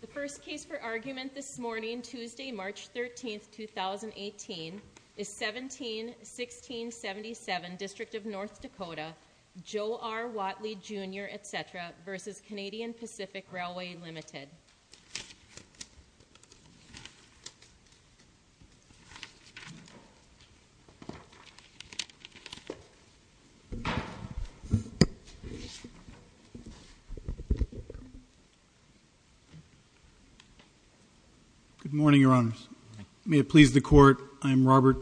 The first case for argument this morning, Tuesday, March 13, 2018, is 17-1677, District of North Dakota, Joe R. Whatley, Jr., etc. v. Canadian Pacific Railway Ltd. Good morning, Your Honors. May it please the Court, I am Robert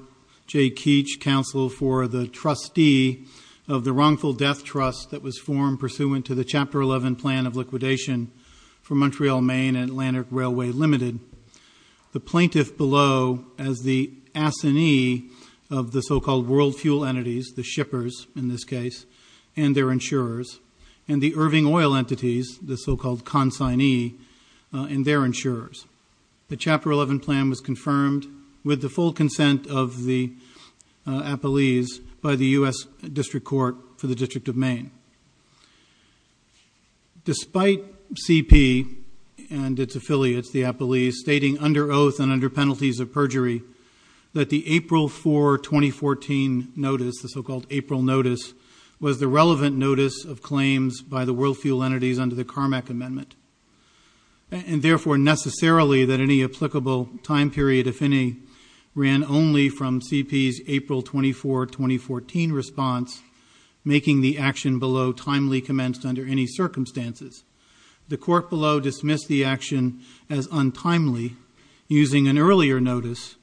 J. Keech, counsel for the trustee of the wrongful death trust that was formed pursuant to the Chapter 11 plan of liquidation for Montreal, Maine and Atlantic Railway Ltd. The plaintiff below as the assignee of the so-called world fuel entities, the shippers in this case, and their insurers, and the Irving Oil entities, the so-called consignee, and their insurers. The Chapter 11 plan was confirmed with the full consent of the appellees by the U.S. District Court for the District of Maine. Despite C.P. and its affiliates, the appellees, stating under oath and under penalties of perjury that the April 4, 2014, notice, the so-called April notice, was the relevant notice of claims by the world fuel entities under the Carmack Amendment. And, therefore, necessarily that any applicable time period, if any, ran only from C.P.'s April 24, 2014 response, making the action below timely commenced under any circumstances. The court below dismissed the action as untimely, using an earlier notice,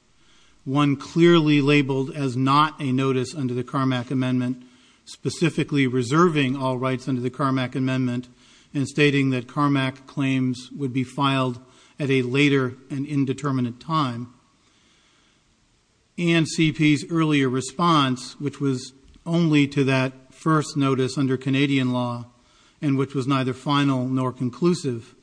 one clearly labeled as not a notice under the Carmack Amendment, specifically reserving all rights under the Carmack Amendment, and stating that Carmack claims would be filed at a later and indeterminate time. And C.P.'s earlier response, which was only to that first notice under Canadian law, and which was neither final nor conclusive,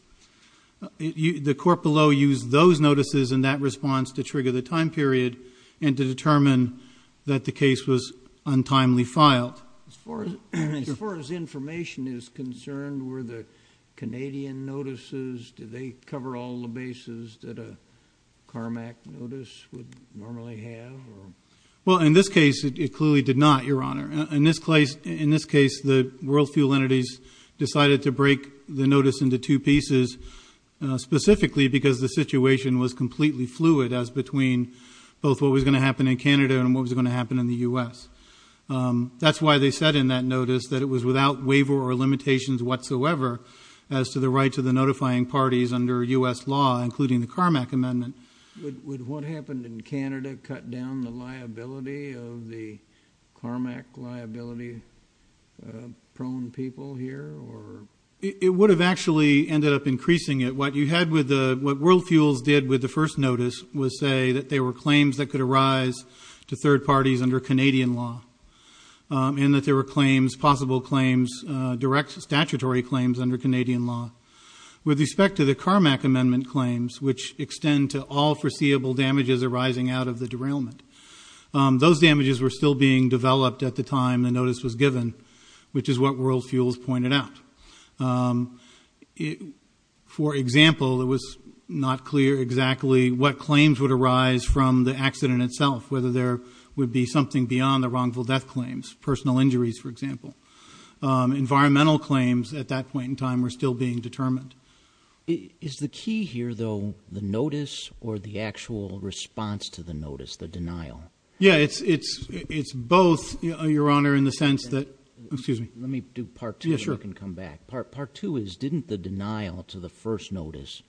the court below used those notices and that response to trigger the time period and to determine that the case was untimely filed. As far as information is concerned, were the Canadian notices, did they cover all the bases that a Carmack notice would normally have? Well, in this case, it clearly did not, Your Honor. In this case, the world fuel entities decided to break the notice into two pieces, specifically because the situation was completely fluid as between both what was going to happen in Canada and what was going to happen in the U.S. That's why they said in that notice that it was without waiver or limitations whatsoever as to the right to the notifying parties under U.S. law, including the Carmack Amendment. Would what happened in Canada cut down the liability of the Carmack liability-prone people here? It would have actually ended up increasing it. What World Fuels did with the first notice was say that there were claims that could arise to third parties under Canadian law and that there were claims, possible claims, direct statutory claims under Canadian law. With respect to the Carmack Amendment claims, which extend to all foreseeable damages arising out of the derailment, those damages were still being developed at the time the notice was given, which is what World Fuels pointed out. For example, it was not clear exactly what claims would arise from the accident itself, whether there would be something beyond the wrongful death claims, personal injuries, for example. Environmental claims at that point in time were still being determined. Is the key here, though, the notice or the actual response to the notice, the denial? Yeah, it's both, Your Honor, in the sense that – excuse me. Let me do part two and then I can come back. Part two is didn't the denial to the first notice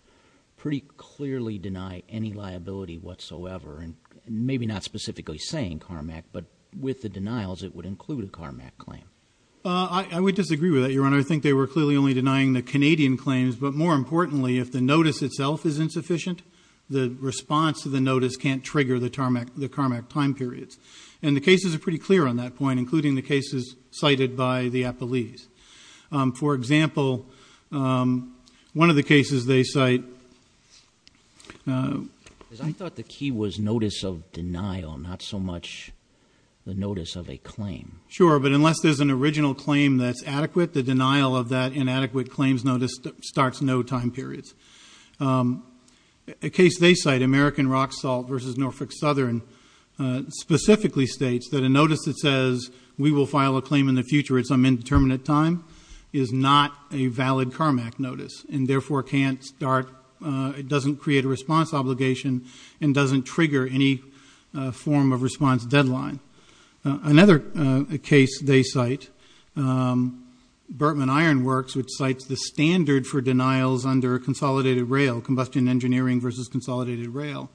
pretty clearly deny any liability whatsoever? Maybe not specifically saying Carmack, but with the denials, it would include a Carmack claim. I would disagree with that, Your Honor. I think they were clearly only denying the Canadian claims, but more importantly, if the notice itself is insufficient, the response to the notice can't trigger the Carmack time periods. And the cases are pretty clear on that point, including the cases cited by the appellees. For example, one of the cases they cite – I thought the key was notice of denial, not so much the notice of a claim. Sure, but unless there's an original claim that's adequate, the denial of that inadequate claims notice starts no time periods. A case they cite, American Rock Salt v. Norfolk Southern, specifically states that a notice that says we will file a claim in the future at some indeterminate time is not a valid Carmack notice and therefore can't start – it doesn't create a response obligation and doesn't trigger any form of response deadline. Another case they cite, Burtman Iron Works, which cites the standard for denials under a consolidated rail, combustion engineering versus consolidated rail,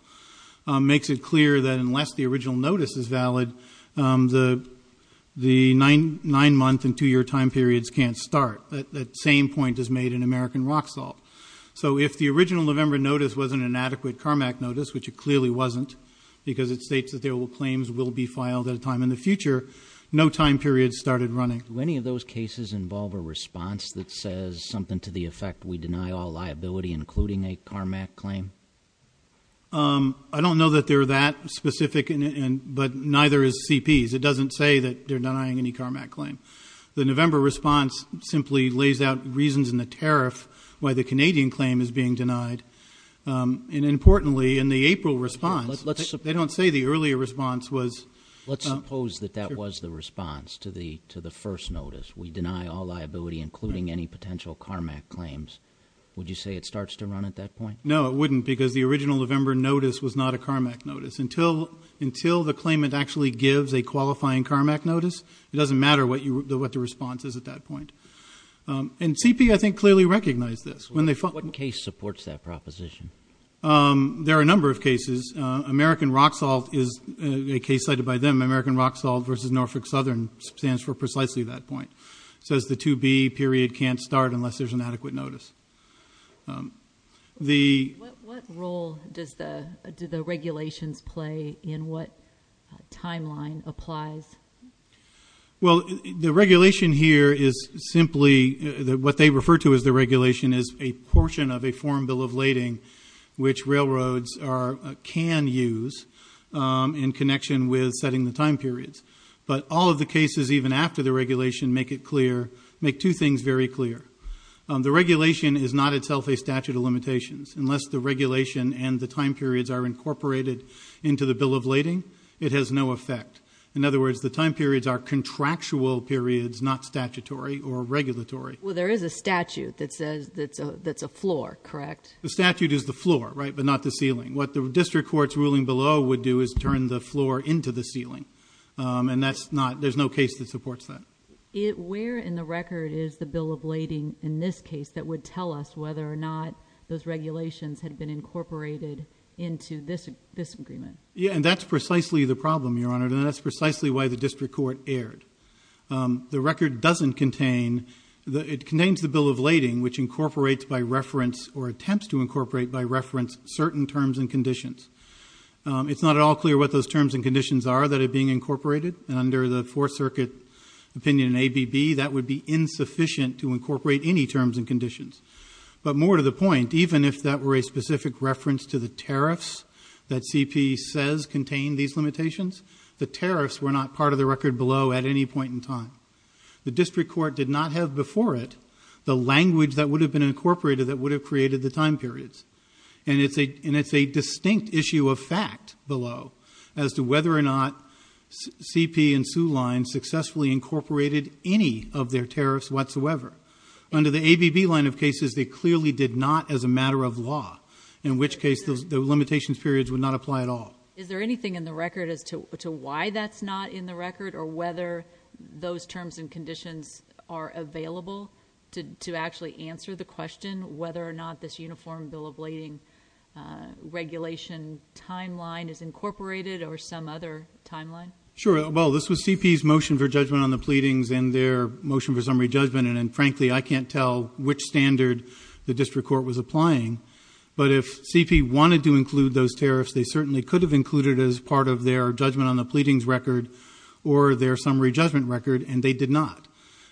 makes it clear that unless the original notice is valid, the nine-month and two-year time periods can't start. That same point is made in American Rock Salt. So if the original November notice wasn't an adequate Carmack notice, which it clearly wasn't, because it states that their claims will be filed at a time in the future, no time period started running. Do any of those cases involve a response that says something to the effect we deny all liability, including a Carmack claim? I don't know that they're that specific, but neither is CP's. It doesn't say that they're denying any Carmack claim. The November response simply lays out reasons in the tariff why the Canadian claim is being denied. And importantly, in the April response, they don't say the earlier response was – Let's suppose that that was the response to the first notice. We deny all liability, including any potential Carmack claims. Would you say it starts to run at that point? No, it wouldn't, because the original November notice was not a Carmack notice. Until the claimant actually gives a qualifying Carmack notice, it doesn't matter what the response is at that point. And CP, I think, clearly recognized this. What case supports that proposition? There are a number of cases. American Rock Salt is a case cited by them. American Rock Salt versus Norfolk Southern stands for precisely that point. It says the 2B period can't start unless there's an adequate notice. What role do the regulations play in what timeline applies? Well, the regulation here is simply – What they refer to as the regulation is a portion of a foreign bill of lading, which railroads can use in connection with setting the time periods. But all of the cases, even after the regulation, make two things very clear. The regulation is not itself a statute of limitations. Unless the regulation and the time periods are incorporated into the bill of lading, it has no effect. In other words, the time periods are contractual periods, not statutory or regulatory. Well, there is a statute that says – that's a floor, correct? The statute is the floor, right, but not the ceiling. What the district court's ruling below would do is turn the floor into the ceiling. And that's not – there's no case that supports that. Where in the record is the bill of lading, in this case, that would tell us whether or not those regulations had been incorporated into this agreement? Yeah, and that's precisely the problem, Your Honor. And that's precisely why the district court erred. The record doesn't contain – it contains the bill of lading, which incorporates by reference or attempts to incorporate by reference certain terms and conditions. It's not at all clear what those terms and conditions are that are being incorporated. And under the Fourth Circuit opinion in ABB, that would be insufficient to incorporate any terms and conditions. But more to the point, even if that were a specific reference to the tariffs that CP says contain these limitations, the tariffs were not part of the record below at any point in time. The district court did not have before it the language that would have been incorporated that would have created the time periods. And it's a distinct issue of fact below as to whether or not CP and Soo Line successfully incorporated any of their tariffs whatsoever. Under the ABB line of cases, they clearly did not as a matter of law, in which case the limitations periods would not apply at all. Is there anything in the record as to why that's not in the record or whether those terms and conditions are available to actually answer the question whether or not this uniform bill of lading regulation timeline is incorporated or some other timeline? Sure. Well, this was CP's motion for judgment on the pleadings and their motion for summary judgment. And frankly, I can't tell which standard the district court was applying. But if CP wanted to include those tariffs, they certainly could have included as part of their judgment on the pleadings record or their summary judgment record, and they did not.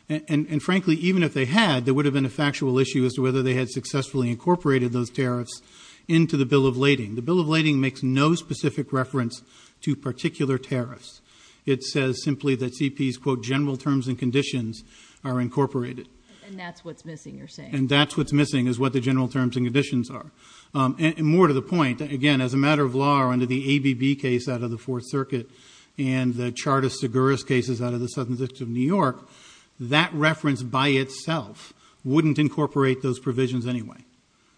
And frankly, even if they had, there would have been a factual issue as to whether they had successfully incorporated those tariffs into the bill of lading. The bill of lading makes no specific reference to particular tariffs. It says simply that CP's, quote, general terms and conditions are incorporated. And that's what's missing, you're saying? And that's what's missing is what the general terms and conditions are. And more to the point, again, as a matter of law, under the ABB case out of the Fourth Circuit and the Chartist-Seguris cases out of the Southern District of New York, that reference by itself wouldn't incorporate those provisions anyway.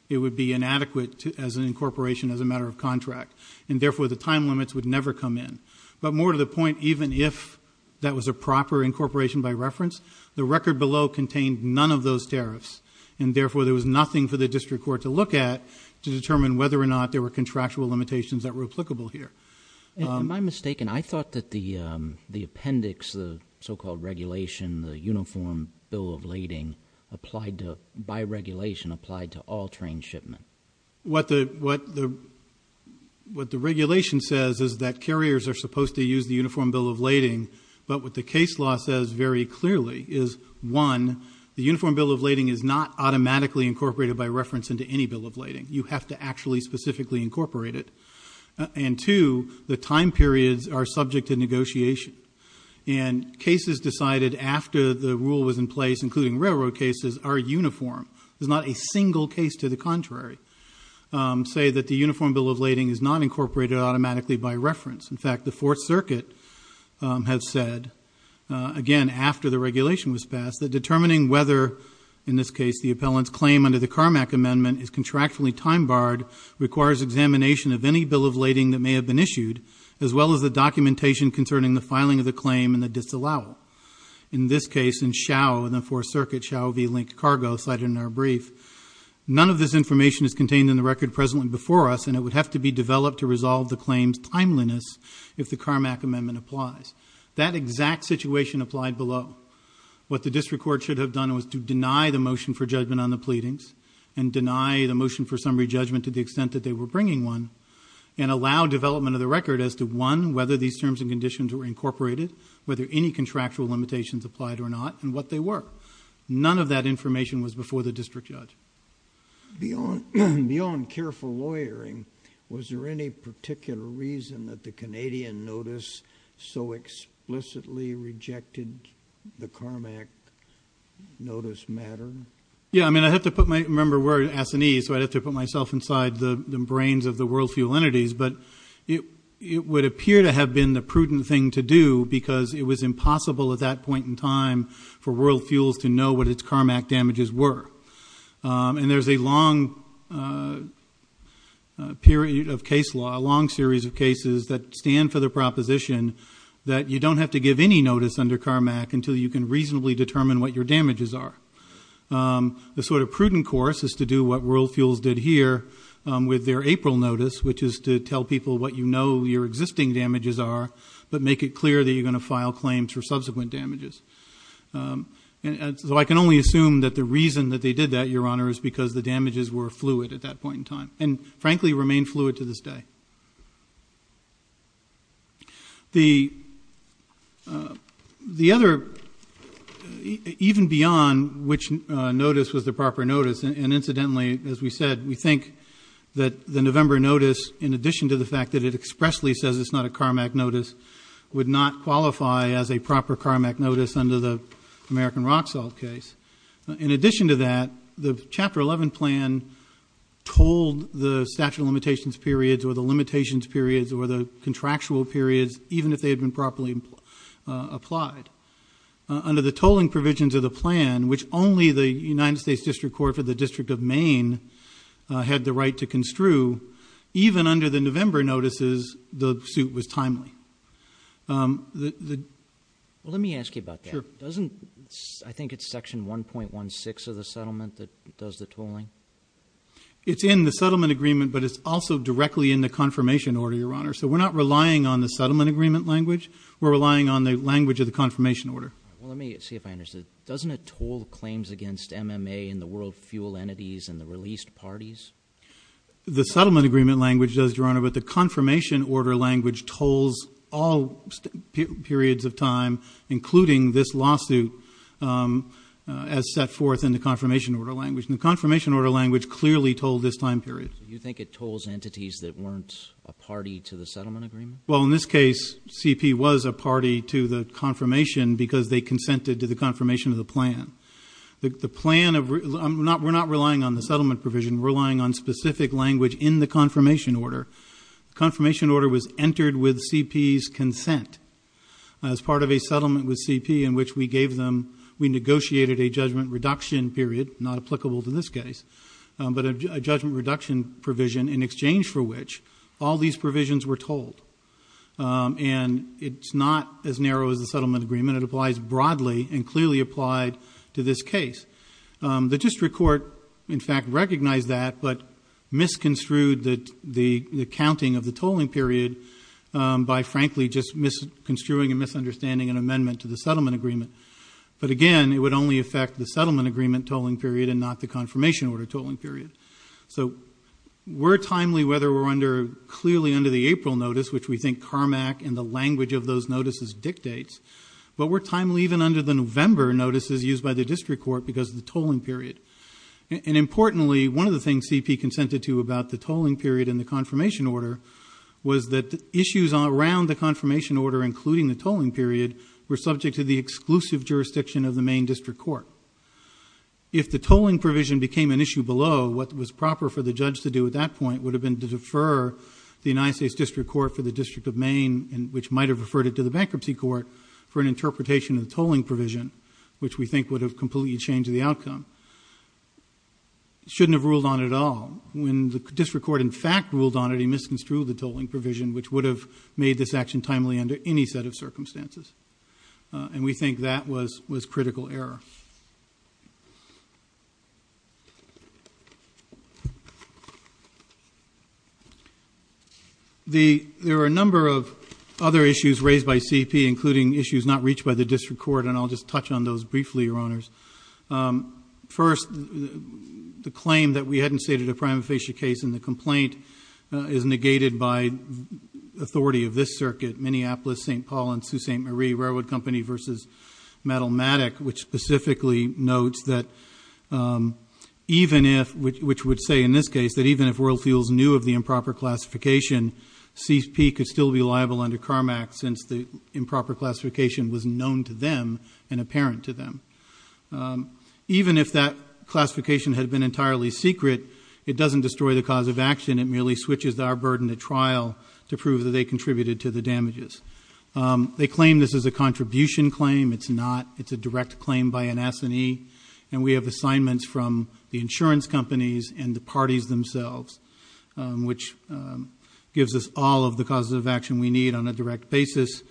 It would be inadequate as an incorporation as a matter of contract. And therefore, the time limits would never come in. But more to the point, even if that was a proper incorporation by reference, the record below contained none of those tariffs. And therefore, there was nothing for the district court to look at to determine whether or not there were contractual limitations that were applicable here. Am I mistaken? I thought that the appendix, the so-called regulation, the uniform bill of lading applied to, by regulation, applied to all train shipment. What the regulation says is that carriers are supposed to use the uniform bill of lading. But what the case law says very clearly is, one, the uniform bill of lading is not automatically incorporated by reference into any bill of lading. You have to actually specifically incorporate it. And two, the time periods are subject to negotiation. And cases decided after the rule was in place, including railroad cases, are uniform. There's not a single case to the contrary say that the uniform bill of lading is not incorporated automatically by reference. In fact, the Fourth Circuit has said, again, after the regulation was passed, that determining whether, in this case, the appellant's claim under the Carmack Amendment is contractually time-barred requires examination of any bill of lading that may have been issued, as well as the documentation concerning the filing of the claim and the disallowal. In this case, in Xiao, in the Fourth Circuit, Xiao v. Linked Cargo, cited in our brief, none of this information is contained in the record presently before us, and it would have to be developed to resolve the claim's timeliness if the Carmack Amendment applies. That exact situation applied below. What the district court should have done was to deny the motion for judgment on the pleadings, and deny the motion for summary judgment to the extent that they were bringing one, and allow development of the record as to, one, whether these terms and conditions were incorporated, whether any contractual limitations applied or not, and what they were. None of that information was before the district judge. Beyond careful lawyering, was there any particular reason that the Canadian notice so explicitly rejected the Carmack notice matter? Yeah, I mean, I have to put my, remember, we're in Assanese, so I'd have to put myself inside the brains of the world fuel entities, but it would appear to have been the prudent thing to do because it was impossible at that point in time for world fuels to know what its Carmack damages were. And there's a long period of case law, a long series of cases, that stand for the proposition that you don't have to give any notice under Carmack until you can reasonably determine what your damages are. The sort of prudent course is to do what world fuels did here with their April notice, which is to tell people what you know your existing damages are, but make it clear that you're going to file claims for subsequent damages. So I can only assume that the reason that they did that, Your Honor, is because the damages were fluid at that point in time, and frankly remain fluid to this day. The other, even beyond which notice was the proper notice, and incidentally, as we said, we think that the November notice, in addition to the fact that it expressly says it's not a Carmack notice, would not qualify as a proper Carmack notice under the American Rock Salt case. In addition to that, the Chapter 11 plan told the statute of limitations periods or the limitations periods or the contractual periods, even if they had been properly applied. Under the tolling provisions of the plan, which only the United States District Court for the District of Maine had the right to construe, even under the November notices, the suit was timely. Well, let me ask you about that. I think it's Section 1.16 of the settlement that does the tolling? It's in the settlement agreement, but it's also directly in the confirmation order, Your Honor. So we're not relying on the settlement agreement language. We're relying on the language of the confirmation order. Well, let me see if I understood. Doesn't it toll claims against MMA and the world fuel entities and the released parties? The settlement agreement language does, Your Honor, but the confirmation order language tolls all periods of time, including this lawsuit, as set forth in the confirmation order language. And the confirmation order language clearly tolled this time period. You think it tolls entities that weren't a party to the settlement agreement? Well, in this case, CP was a party to the confirmation because they consented to the confirmation of the plan. The plan of – we're not relying on the settlement provision. We're relying on specific language in the confirmation order. The confirmation order was entered with CP's consent. As part of a settlement with CP in which we gave them – we negotiated a judgment reduction period, not applicable to this case, but a judgment reduction provision in exchange for which all these provisions were tolled. And it's not as narrow as the settlement agreement. It applies broadly and clearly applied to this case. The district court, in fact, recognized that, but misconstrued the counting of the tolling period by, frankly, just misconstruing and misunderstanding an amendment to the settlement agreement. But again, it would only affect the settlement agreement tolling period and not the confirmation order tolling period. So we're timely whether we're clearly under the April notice, which we think Carmack and the language of those notices dictates, but we're timely even under the November notices used by the district court because of the tolling period. And importantly, one of the things CP consented to about the tolling period and the confirmation order was that issues around the confirmation order, including the tolling period, were subject to the exclusive jurisdiction of the Maine District Court. If the tolling provision became an issue below, what was proper for the judge to do at that point would have been to defer the United States District Court for the District of Maine, which might have referred it to the bankruptcy court, for an interpretation of the tolling provision, which we think would have completely changed the outcome. He shouldn't have ruled on it at all. When the district court, in fact, ruled on it, he misconstrued the tolling provision, which would have made this action timely under any set of circumstances. And we think that was critical error. There are a number of other issues raised by CP, including issues not reached by the district court, and I'll just touch on those briefly, Your Honors. First, the claim that we hadn't stated a prima facie case in the complaint is negated by authority of this circuit, Minneapolis, St. Paul, and Sault Ste. Marie, Railroad Company versus Metalmatic, which specifically notes that even if, which would say in this case, that even if Royal Fuels knew of the improper classification, CP could still be liable under CARMAC since the improper classification was known to them and apparent to them. Even if that classification had been entirely secret, it doesn't destroy the cause of action. It merely switches our burden at trial to prove that they contributed to the damages. They claim this is a contribution claim. It's not. It's a direct claim by an S&E. And we have assignments from the insurance companies and the parties themselves, which gives us all of the causes of action we need on a direct basis.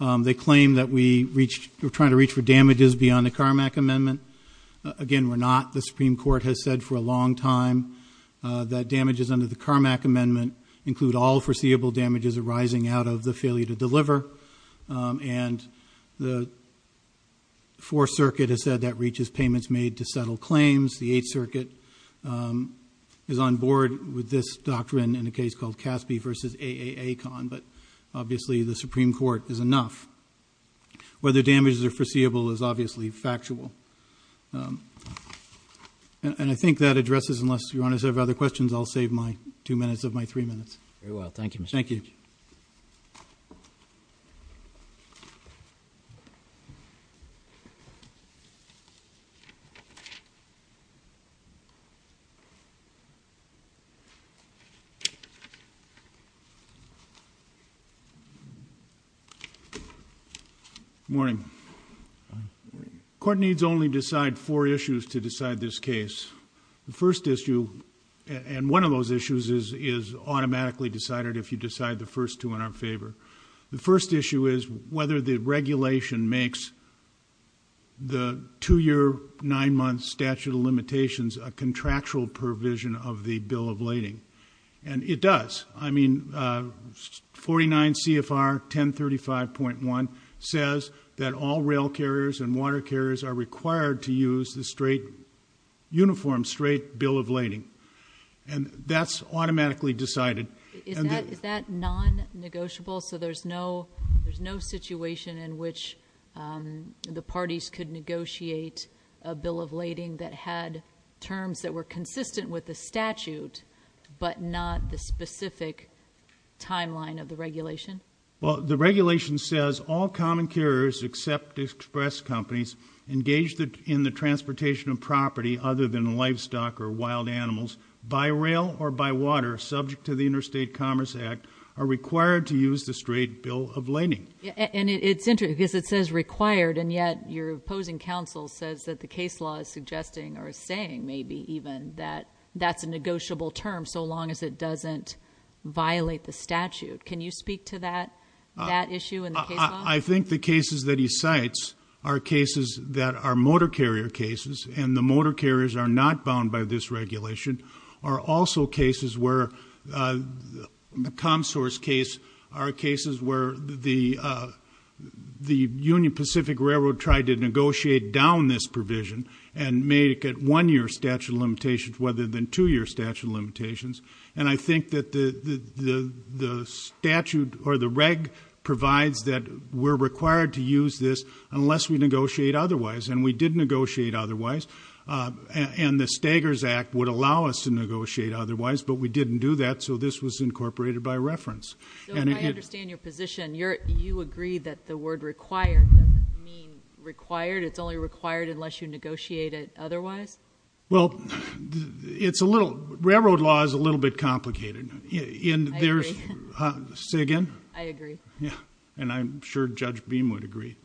They claim that we reached, we're trying to reach for damages beyond the CARMAC amendment. Again, we're not. The Supreme Court has said for a long time that damages under the CARMAC amendment include all foreseeable damages arising out of the failure to deliver. And the Fourth Circuit has said that reaches payments made to settle claims. The Eighth Circuit is on board with this doctrine in a case called Caspi versus AAA Con, but obviously the Supreme Court is enough. Whether damages are foreseeable is obviously factual. And I think that addresses, unless Your Honor has other questions, I'll save my two minutes of my three minutes. Very well. Thank you, Mr. Chief. Thank you. Good morning. Court needs only decide four issues to decide this case. The first issue, and one of those issues, is automatically decided if you decide the first two in our favor. The first issue is whether the regulation makes the two-year, nine-month statute of limitations a contractual provision of the bill of lading. And it does. I mean, 49 CFR 1035.1 says that all rail carriers and water carriers are required to use the straight, uniform straight bill of lading. And that's automatically decided. Is that non-negotiable? So there's no situation in which the parties could negotiate a bill of lading that had terms that were consistent with the statute, but not the specific timeline of the regulation? Well, the regulation says all common carriers except express companies engaged in the transportation of property other than livestock or wild animals by rail or by water subject to the Interstate Commerce Act are required to use the straight bill of lading. And it's interesting, because it says required, and yet your opposing counsel says that the case law is suggesting, or saying maybe even, that that's a negotiable term so long as it doesn't violate the statute. Can you speak to that issue in the case law? I think the cases that he cites are cases that are motor carrier cases, and the motor carriers are not bound by this regulation, are also cases where, the ComSource case are cases where the Union Pacific Railroad tried to negotiate down this provision and make it one-year statute of limitations rather than two-year statute of limitations. And I think that the statute, or the reg, provides that we're required to use this unless we negotiate otherwise, and we did negotiate otherwise. And the Staggers Act would allow us to negotiate otherwise, but we didn't do that, so this was incorporated by reference. So I understand your position. You agree that the word required doesn't mean required. You would negotiate it otherwise? Well, it's a little, railroad law is a little bit complicated. I agree. Say again? I agree. And I'm sure Judge Beam would agree.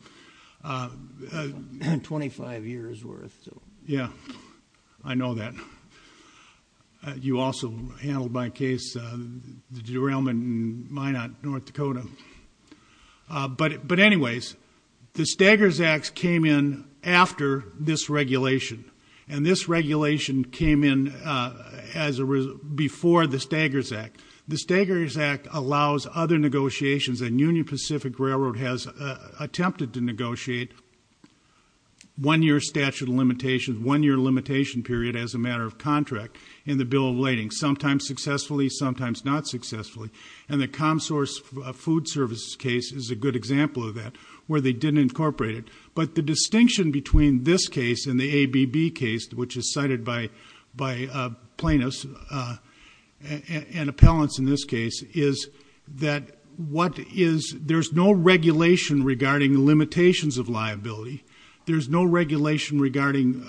25 years worth. Yeah, I know that. You also handled my case, the derailment in Minot, North Dakota. But anyways, the Staggers Act came in after this regulation. And this regulation came in before the Staggers Act. The Staggers Act allows other negotiations, and Union Pacific Railroad has attempted to negotiate one-year statute of limitations, one-year limitation period as a matter of contract in the bill of lading, sometimes successfully, sometimes not successfully. And the ComSource food service case is a good example of that, where they didn't incorporate it. But the distinction between this case and the ABB case, which is cited by plaintiffs and appellants in this case, is that what is, there's no regulation regarding limitations of liability. There's no regulation regarding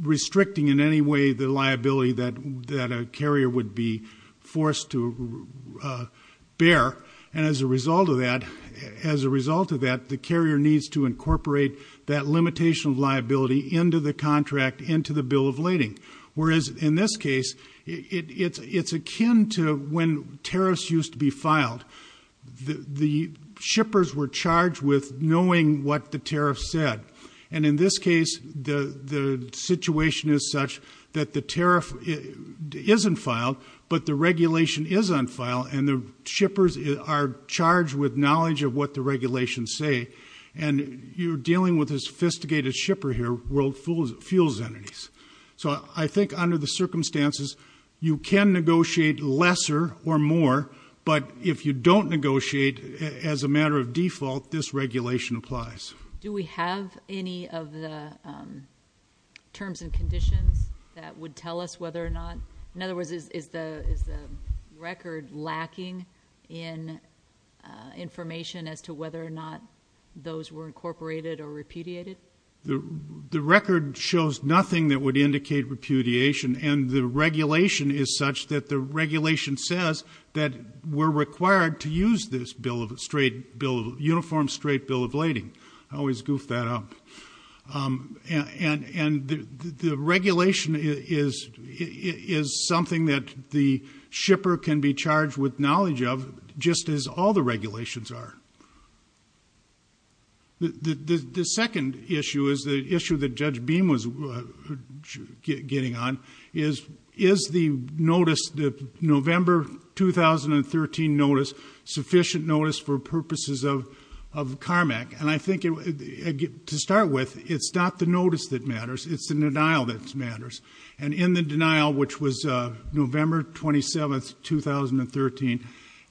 restricting in any way the liability that a carrier would be forced to bear. And as a result of that, as a result of that, the carrier needs to incorporate that limitation of liability into the contract, into the bill of lading. Whereas in this case, it's akin to when tariffs used to be filed. The shippers were charged with knowing what the tariffs said. And in this case, the situation is such that the tariff isn't filed, but the regulation is on file, and the shippers are charged with knowledge of what the regulations say. And you're dealing with a sophisticated shipper here, world fuels entities. So I think under the circumstances, you can negotiate lesser or more, but if you don't negotiate as a matter of default, this regulation applies. Do we have any of the terms and conditions that would tell us whether or not, in other words, is the record lacking in information as to whether or not those were incorporated or repudiated? The record shows nothing that would indicate repudiation, and the regulation is such that the regulation says that we're required to use this bill of, uniform straight bill of lading. I always goof that up. And the regulation is something that the shipper can be charged with knowledge of, just as all the regulations are. The second issue is the issue that Judge Beam was getting on, is the notice, the November 2013 notice, sufficient notice for purposes of CARMAC? And I think, to start with, it's not the notice that matters. It's the denial that matters. And in the denial, which was November 27, 2013,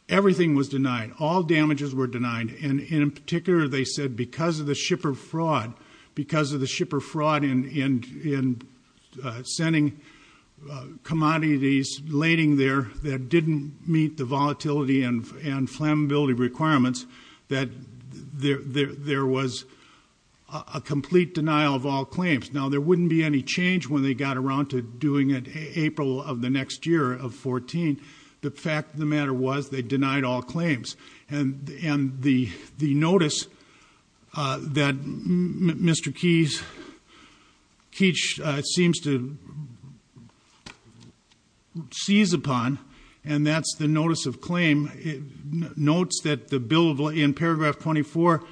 everything was denied. All damages were denied. And in particular, they said because of the shipper fraud, because of the shipper fraud in sending commodities lading there that didn't meet the volatility and flammability requirements, that there was a complete denial of all claims. Now, there wouldn't be any change when they got around to doing it April of the next year of 2014. The fact of the matter was they denied all claims. And the notice that Mr. Keech seems to seize upon, and that's the notice of claim, notes that the bill of, in paragraph 24,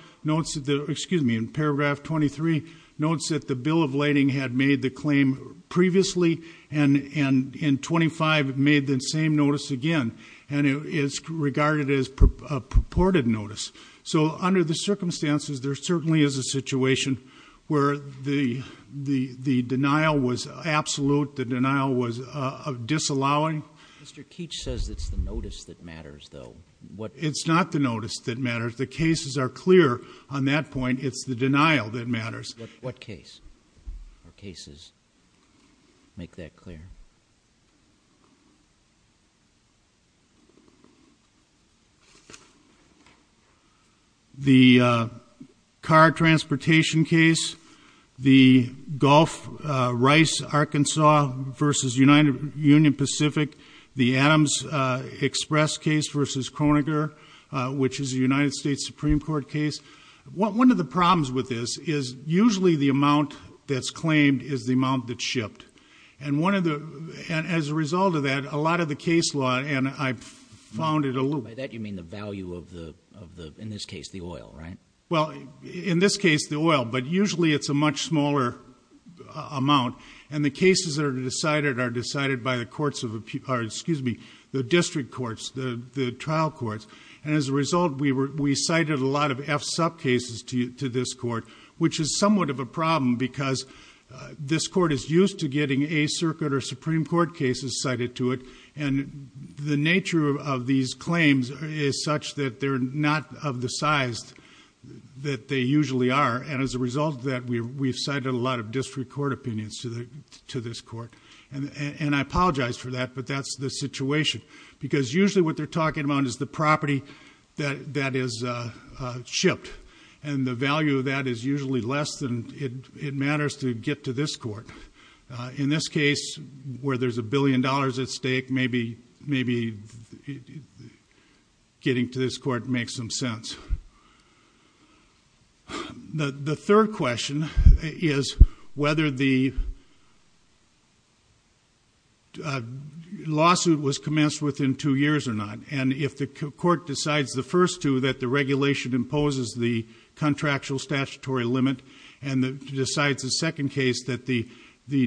excuse me, in paragraph 23, the notice of lading had made the claim previously and in 25 it made the same notice again. And it's regarded as a purported notice. So under the circumstances, there certainly is a situation where the denial was absolute. The denial was disallowing. Mr. Keech says it's the notice that matters, though. It's not the notice that matters. The cases are clear on that point. The cases make that clear. The car transportation case, the Gulf, Rice, Arkansas versus Union Pacific, the Adams Express case versus Kroeniger, which is a United States Supreme Court case. One of the problems with this is usually the amount that's claimed is the amount that's shipped. And as a result of that, a lot of the case law, and I found it a little... By that you mean the value of the, in this case, the oil, right? Well, in this case, the oil, but usually it's a much smaller amount and the cases that are decided are decided by the courts of, excuse me, the district courts, the trial courts. And as a result, we cited a lot of F-sub cases to this court, which is somewhat of a problem because this court is used to getting A-circuit or Supreme Court cases cited to it. And the nature of these claims is such that they're not of the size that they usually are. And as a result of that, we've cited a lot of district court opinions to this court. And I apologize for that, but that's the situation. Because usually what they're talking about is the value that is shipped. And the value of that is usually less than it matters to get to this court. In this case, where there's a billion dollars at stake, maybe getting to this court makes some sense. The third question is whether the lawsuit was commenced within two years or not. And if the court decides the first two that the regulation imposes the contractual statutory limit and decides the second case that the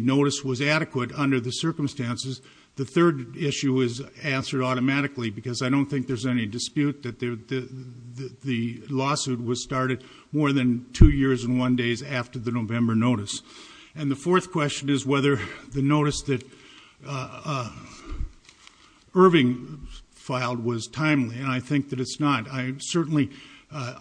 notice was adequate under the circumstances, the third issue is answered automatically because I don't think there's any dispute that the lawsuit was started more than two years and one days after the November notice. And the fourth question is whether the notice that was filed was timely. And I think that it's not. Certainly,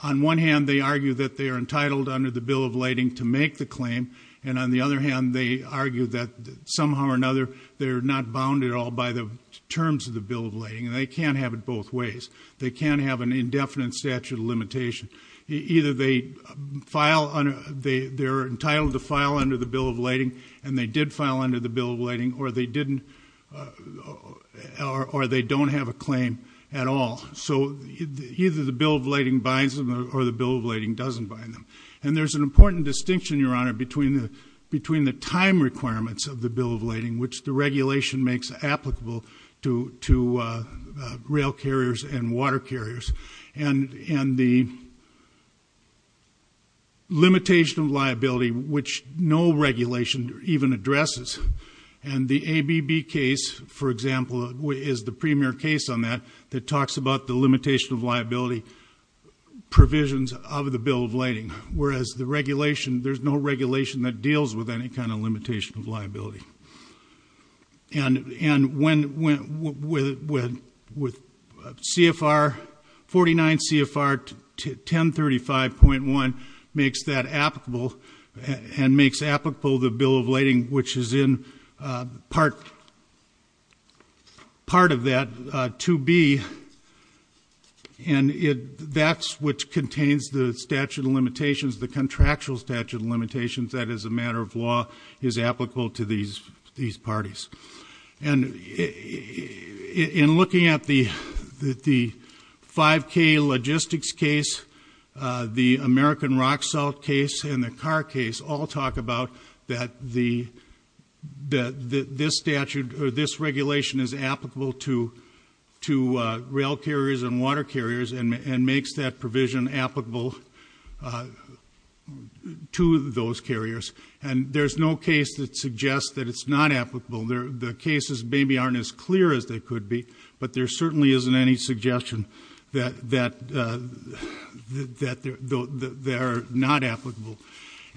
on one hand, they argue that they're entitled under the Bill of Lighting to make the claim. And on the other hand, they argue that somehow or another they're not bounded at all by the terms of the Bill of Lighting. And they can't have it both ways. They can't have an indefinite statute of limitation. Either they're entitled to file under the Bill of Lighting or not at all. So either the Bill of Lighting binds them or the Bill of Lighting doesn't bind them. And there's an important distinction, Your Honor, between the time requirements of the Bill of Lighting which the regulation makes applicable to rail carriers and water carriers and the limitation of liability which no regulation even addresses. And the ABB case, for example, is the premier case on that. It talks about the limitation of liability provisions of the Bill of Lighting. Whereas the regulation, there's no regulation that deals with any kind of limitation of liability. And when CFR 49 CFR 1035.1 makes that applicable and makes applicable the Bill of Lighting which is in part of that 2B and that's what contains the statute of limitations, the contractual statute of limitations that as a matter of law is applicable to these parties. And in looking at the 5K logistics case, the American rock salt case and the car case all talk about that this statute or this regulation is applicable to rail carriers and water carriers and makes that provision applicable to those carriers. And there's no case that suggests that it's not applicable. The cases maybe aren't as clear as they could be, but there certainly isn't any suggestion that they're not applicable.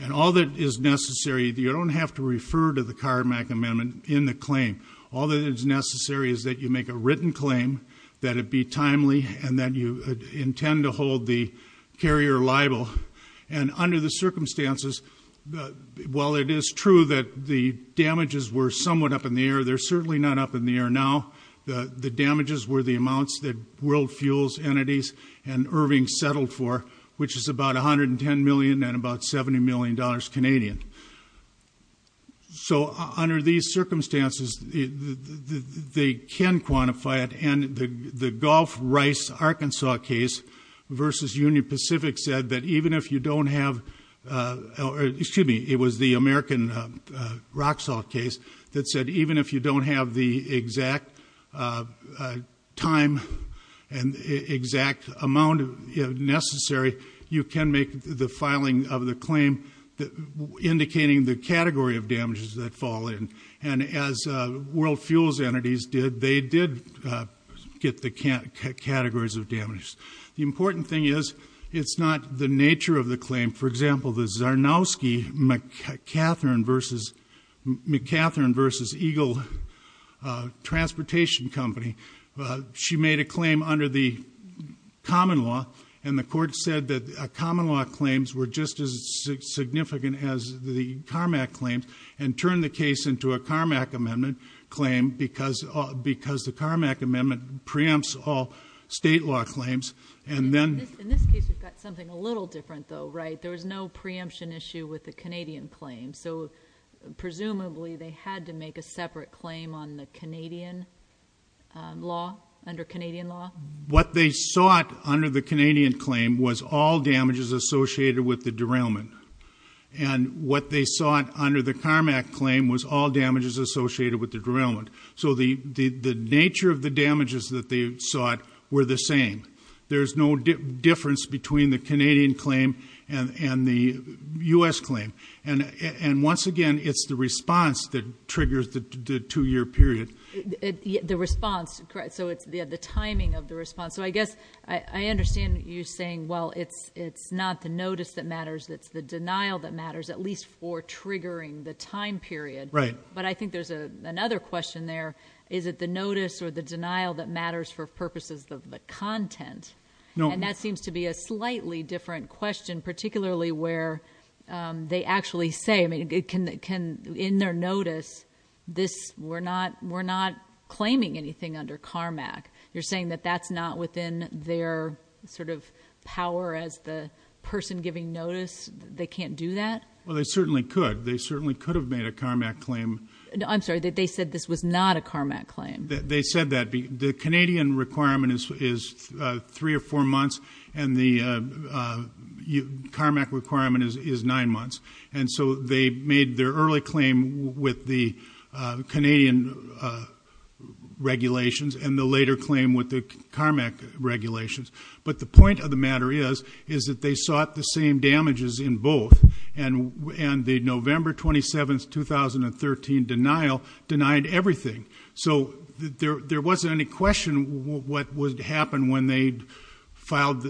And all that is necessary, you don't have to refer to the Carmack Amendment in the claim. All that is necessary is that you make a written claim, that it be timely and that you intend to hold the carrier liable. And under the circumstances, while it is true that the damages were somewhat up in the air, they're certainly not up in the air now. The damages were the amounts that World Fuels Entities and Irving settled for which is about $110 million and about $70 million Canadian. So under these circumstances, they can quantify it. And the Gulf Rice, Arkansas case versus Union Pacific said that even if you don't have, excuse me, it was the American, Roxhaw case, that said even if you don't have the exact time and exact amount necessary, you can make the filing of the claim indicating the category of damages that fall in. And as World Fuels Entities did, they did get the categories of damages. The important thing is it's not the nature of the claim. For example, the Zarnowski, McCather versus Eagle transportation company, she made a claim under the common law and the court said that common law claims are not as significant as the Carmack claims and turned the case into a Carmack amendment claim because the Carmack amendment preempts all state law claims. And then... In this case, we've got something a little different though, right? There was no preemption issue with the Canadian claim. So presumably, they had to make a separate claim on the Canadian law, under Canadian law? And what they sought under the Carmack claim was all damages associated with the derailment. So the nature of the damages that they sought were the same. There's no difference between the Canadian claim and the US claim. And once again, it's the response that triggers the two-year period. The response, correct. So it's the timing of the response. So I guess I understand you saying, well, it's not the notice that matters, it's the denial that matters at least for triggering the time period. But I think there's another question there. Is it the notice or the denial that matters for purposes of the content? And that seems to be a slightly different question, particularly where they actually say, I mean, in their notice, we're not claiming anything under Carmack. You're saying that that's not within their sort of power as the person giving notice? They can't do that? Well, they certainly could. They certainly could have made a Carmack claim. I'm sorry. They said this was not a Carmack claim. They said that. The Canadian requirement is three or four months, and the Carmack requirement is nine months. And so they made their early claim with the Canadian regulations and the later claim with the Carmack regulations. But the point of the matter is that they sought the same damages in both. And the November 27, 2013 denial denied everything. So there wasn't any question what would happen when they'd filed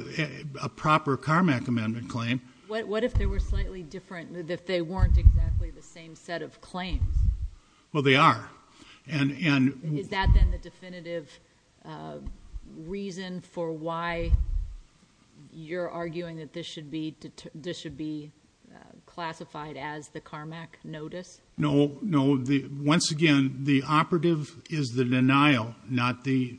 a proper Carmack amendment claim. What if they were slightly different? If they weren't exactly the same set of claims? Well, they are. Is that then the definitive reason for why you're arguing that this should be classified as the Carmack notice? No, no. Once again, the operative is the denial, not the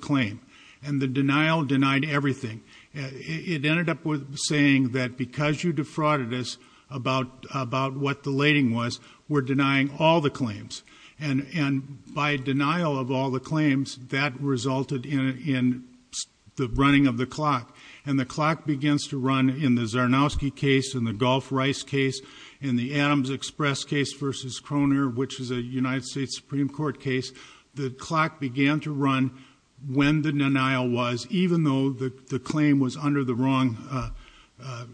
claim. And the denial denied everything. It ended up with saying that because you defrauded us about what the lading was, we're denying all the claims. And by denial of all the claims, that resulted in the running of the clock. And the clock begins to run in the Zarnowski case, in the Gulf Rice case, in the Adams Express case versus Kroner, which is a United States Supreme Court case. The clock began to run when the denial was, even though the claim was under the wrong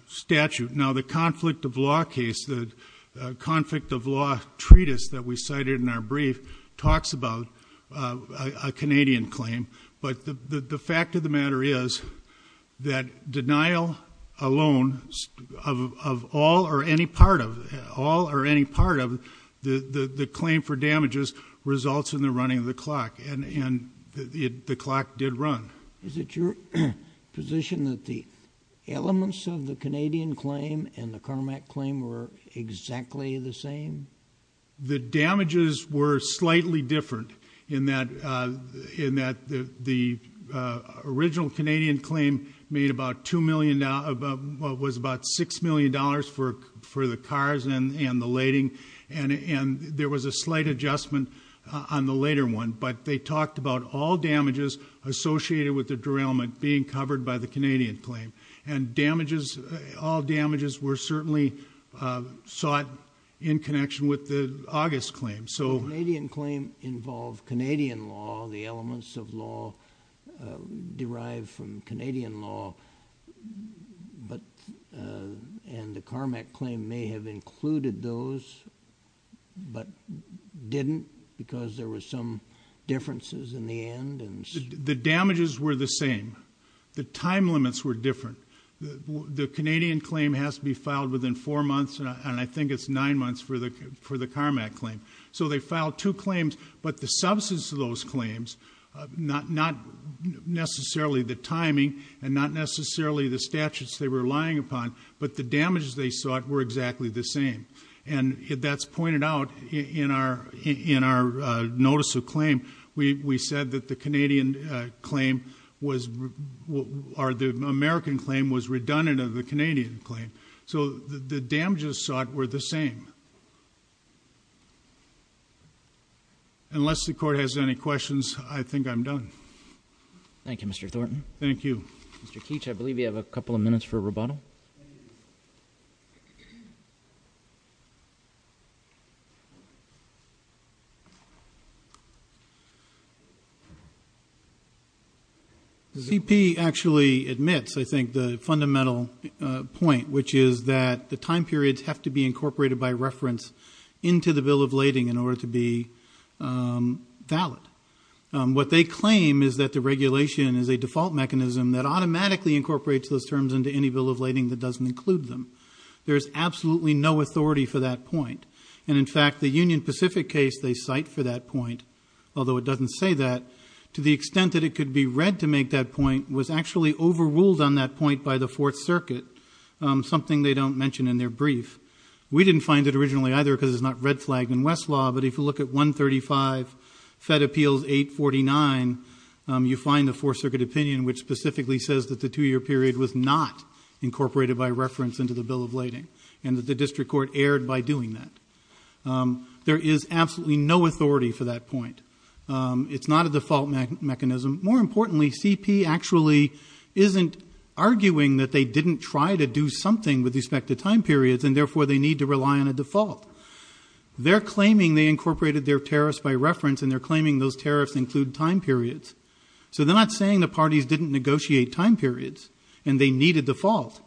statute. Now, the conflict of law case, the conflict of law treatise that we cited in our brief, talks about a Canadian claim. But the fact of the matter is that denial alone, of all or any part of, all or any part of, the claim for damages results in the running of the clock. And the clock did run. Is it your position that the elements of the Canadian claim and the Carmack claim were exactly the same? The damages were slightly different in that the original Canadian claim made about $2 million, was about $6 million for the cars and the lading. And there was a slight adjustment on the later one. But they talked about all damages associated with the derailment being covered by the Canadian claim. And damages, all damages were certainly sought in connection with the August claim. So the Canadian claim involved Canadian law. The elements of law derived from Canadian law. But, and the Carmack claim may have included those, but didn't because there were some differences in the end. The damages were the same. The time limits were different. The Canadian claim has to be filed within four months, and I think it's nine months for the Carmack claim. So they filed two claims, but the substance of those claims, not necessarily the timing and not necessarily the statutes they were relying upon, but the damages they sought were exactly the same. And that's pointed out in our notice of claim. We said that the Canadian claim was, or the American claim was redundant of the Canadian claim. So the damages sought were the same. Unless the court has any questions, I think I'm done. Thank you, Mr. Thornton. Thank you. Mr. Keech, I believe you have a couple of minutes for rebuttal. CP actually admits, I think, to a fundamental point, which is that the time periods have to be incorporated by reference into the bill of lading in order to be valid. What they claim is that the regulation is a default mechanism that automatically incorporates those terms into any bill of lading that doesn't include them. There's absolutely no authority for that point. And in fact, the Union Pacific case they cite for that point, although it doesn't say that, to the extent that it could be read to make that point, was actually overruled on that point by the Fourth Circuit, something they don't mention in their brief. We didn't find it originally either because it's not red flagged in Westlaw, but if you look at 135, Fed Appeals 849, you find the Fourth Circuit opinion which specifically says that the two-year period was not incorporated by reference into the bill of lading and that the district court erred by doing that. There is absolutely no authority for that point. It's not a default mechanism. More importantly, CP actually isn't arguing that they didn't try to do something with respect to time periods and therefore they need to rely on a default. They're claiming they incorporated their tariffs by reference and they're claiming those tariffs include time periods. So they're not saying the parties didn't negotiate time periods and they needed default.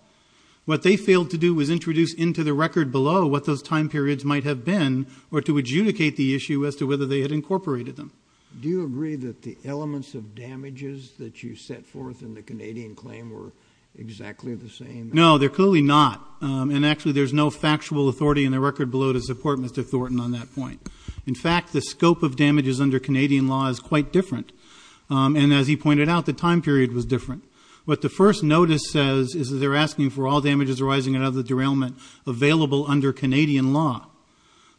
What they failed to do was introduce into the record below what those time periods might have been or to adjudicate the issue as to whether they had incorporated them. Do you agree that the elements of damages that you set forth in the Canadian claim were exactly the same? No, they're clearly not and actually there's no factual authority in the record below to support Mr. Thornton on that point. In fact, the scope of damages under Canadian law is quite different and as he pointed out, the time period was different. What the first notice says is that they're asking for all damages arising out of the derailment available under Canadian law.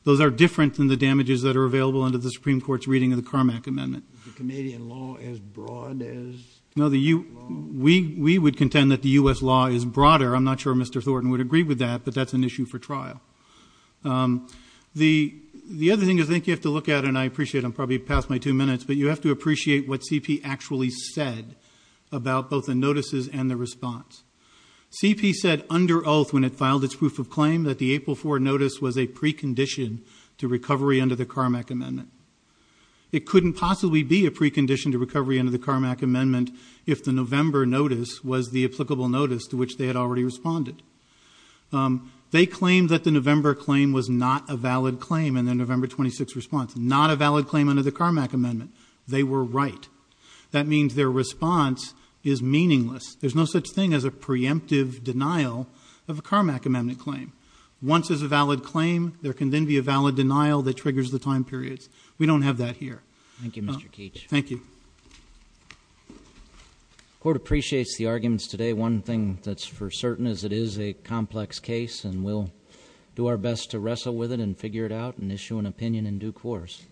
Those are different than the damages that are available under the Supreme Court's reading of the Carmack Amendment. Is the Canadian law as broad as the U.S. law? No, we would contend that the U.S. law is broader. I'm not sure Mr. Thornton would agree with that but that's an issue for trial. The other thing is I think you have to look at and I appreciate I'm probably past my two minutes but you have to appreciate what CP actually said about both the notices and the response. CP said under oath when it filed its proof of claim that the April 4 notice was a precondition to recovery under the Carmack Amendment. It couldn't possibly be a precondition to recovery under the Carmack Amendment if the November notice was the applicable notice to which they had already responded. They claimed that the November claim was not a valid claim in their November 26 response. Not a valid claim under the Carmack Amendment. They were right. That means their response is meaningless. There's no such thing as a preemptive denial of a Carmack Amendment claim. Once there's a valid claim there can then be a valid denial that triggers the time periods. We don't have that here. Thank you Mr. Keach. Thank you. The court appreciates the arguments today. One thing that's for certain is it is a complex case and we'll do our best to wrestle with it and figure it out and issue an opinion in due course.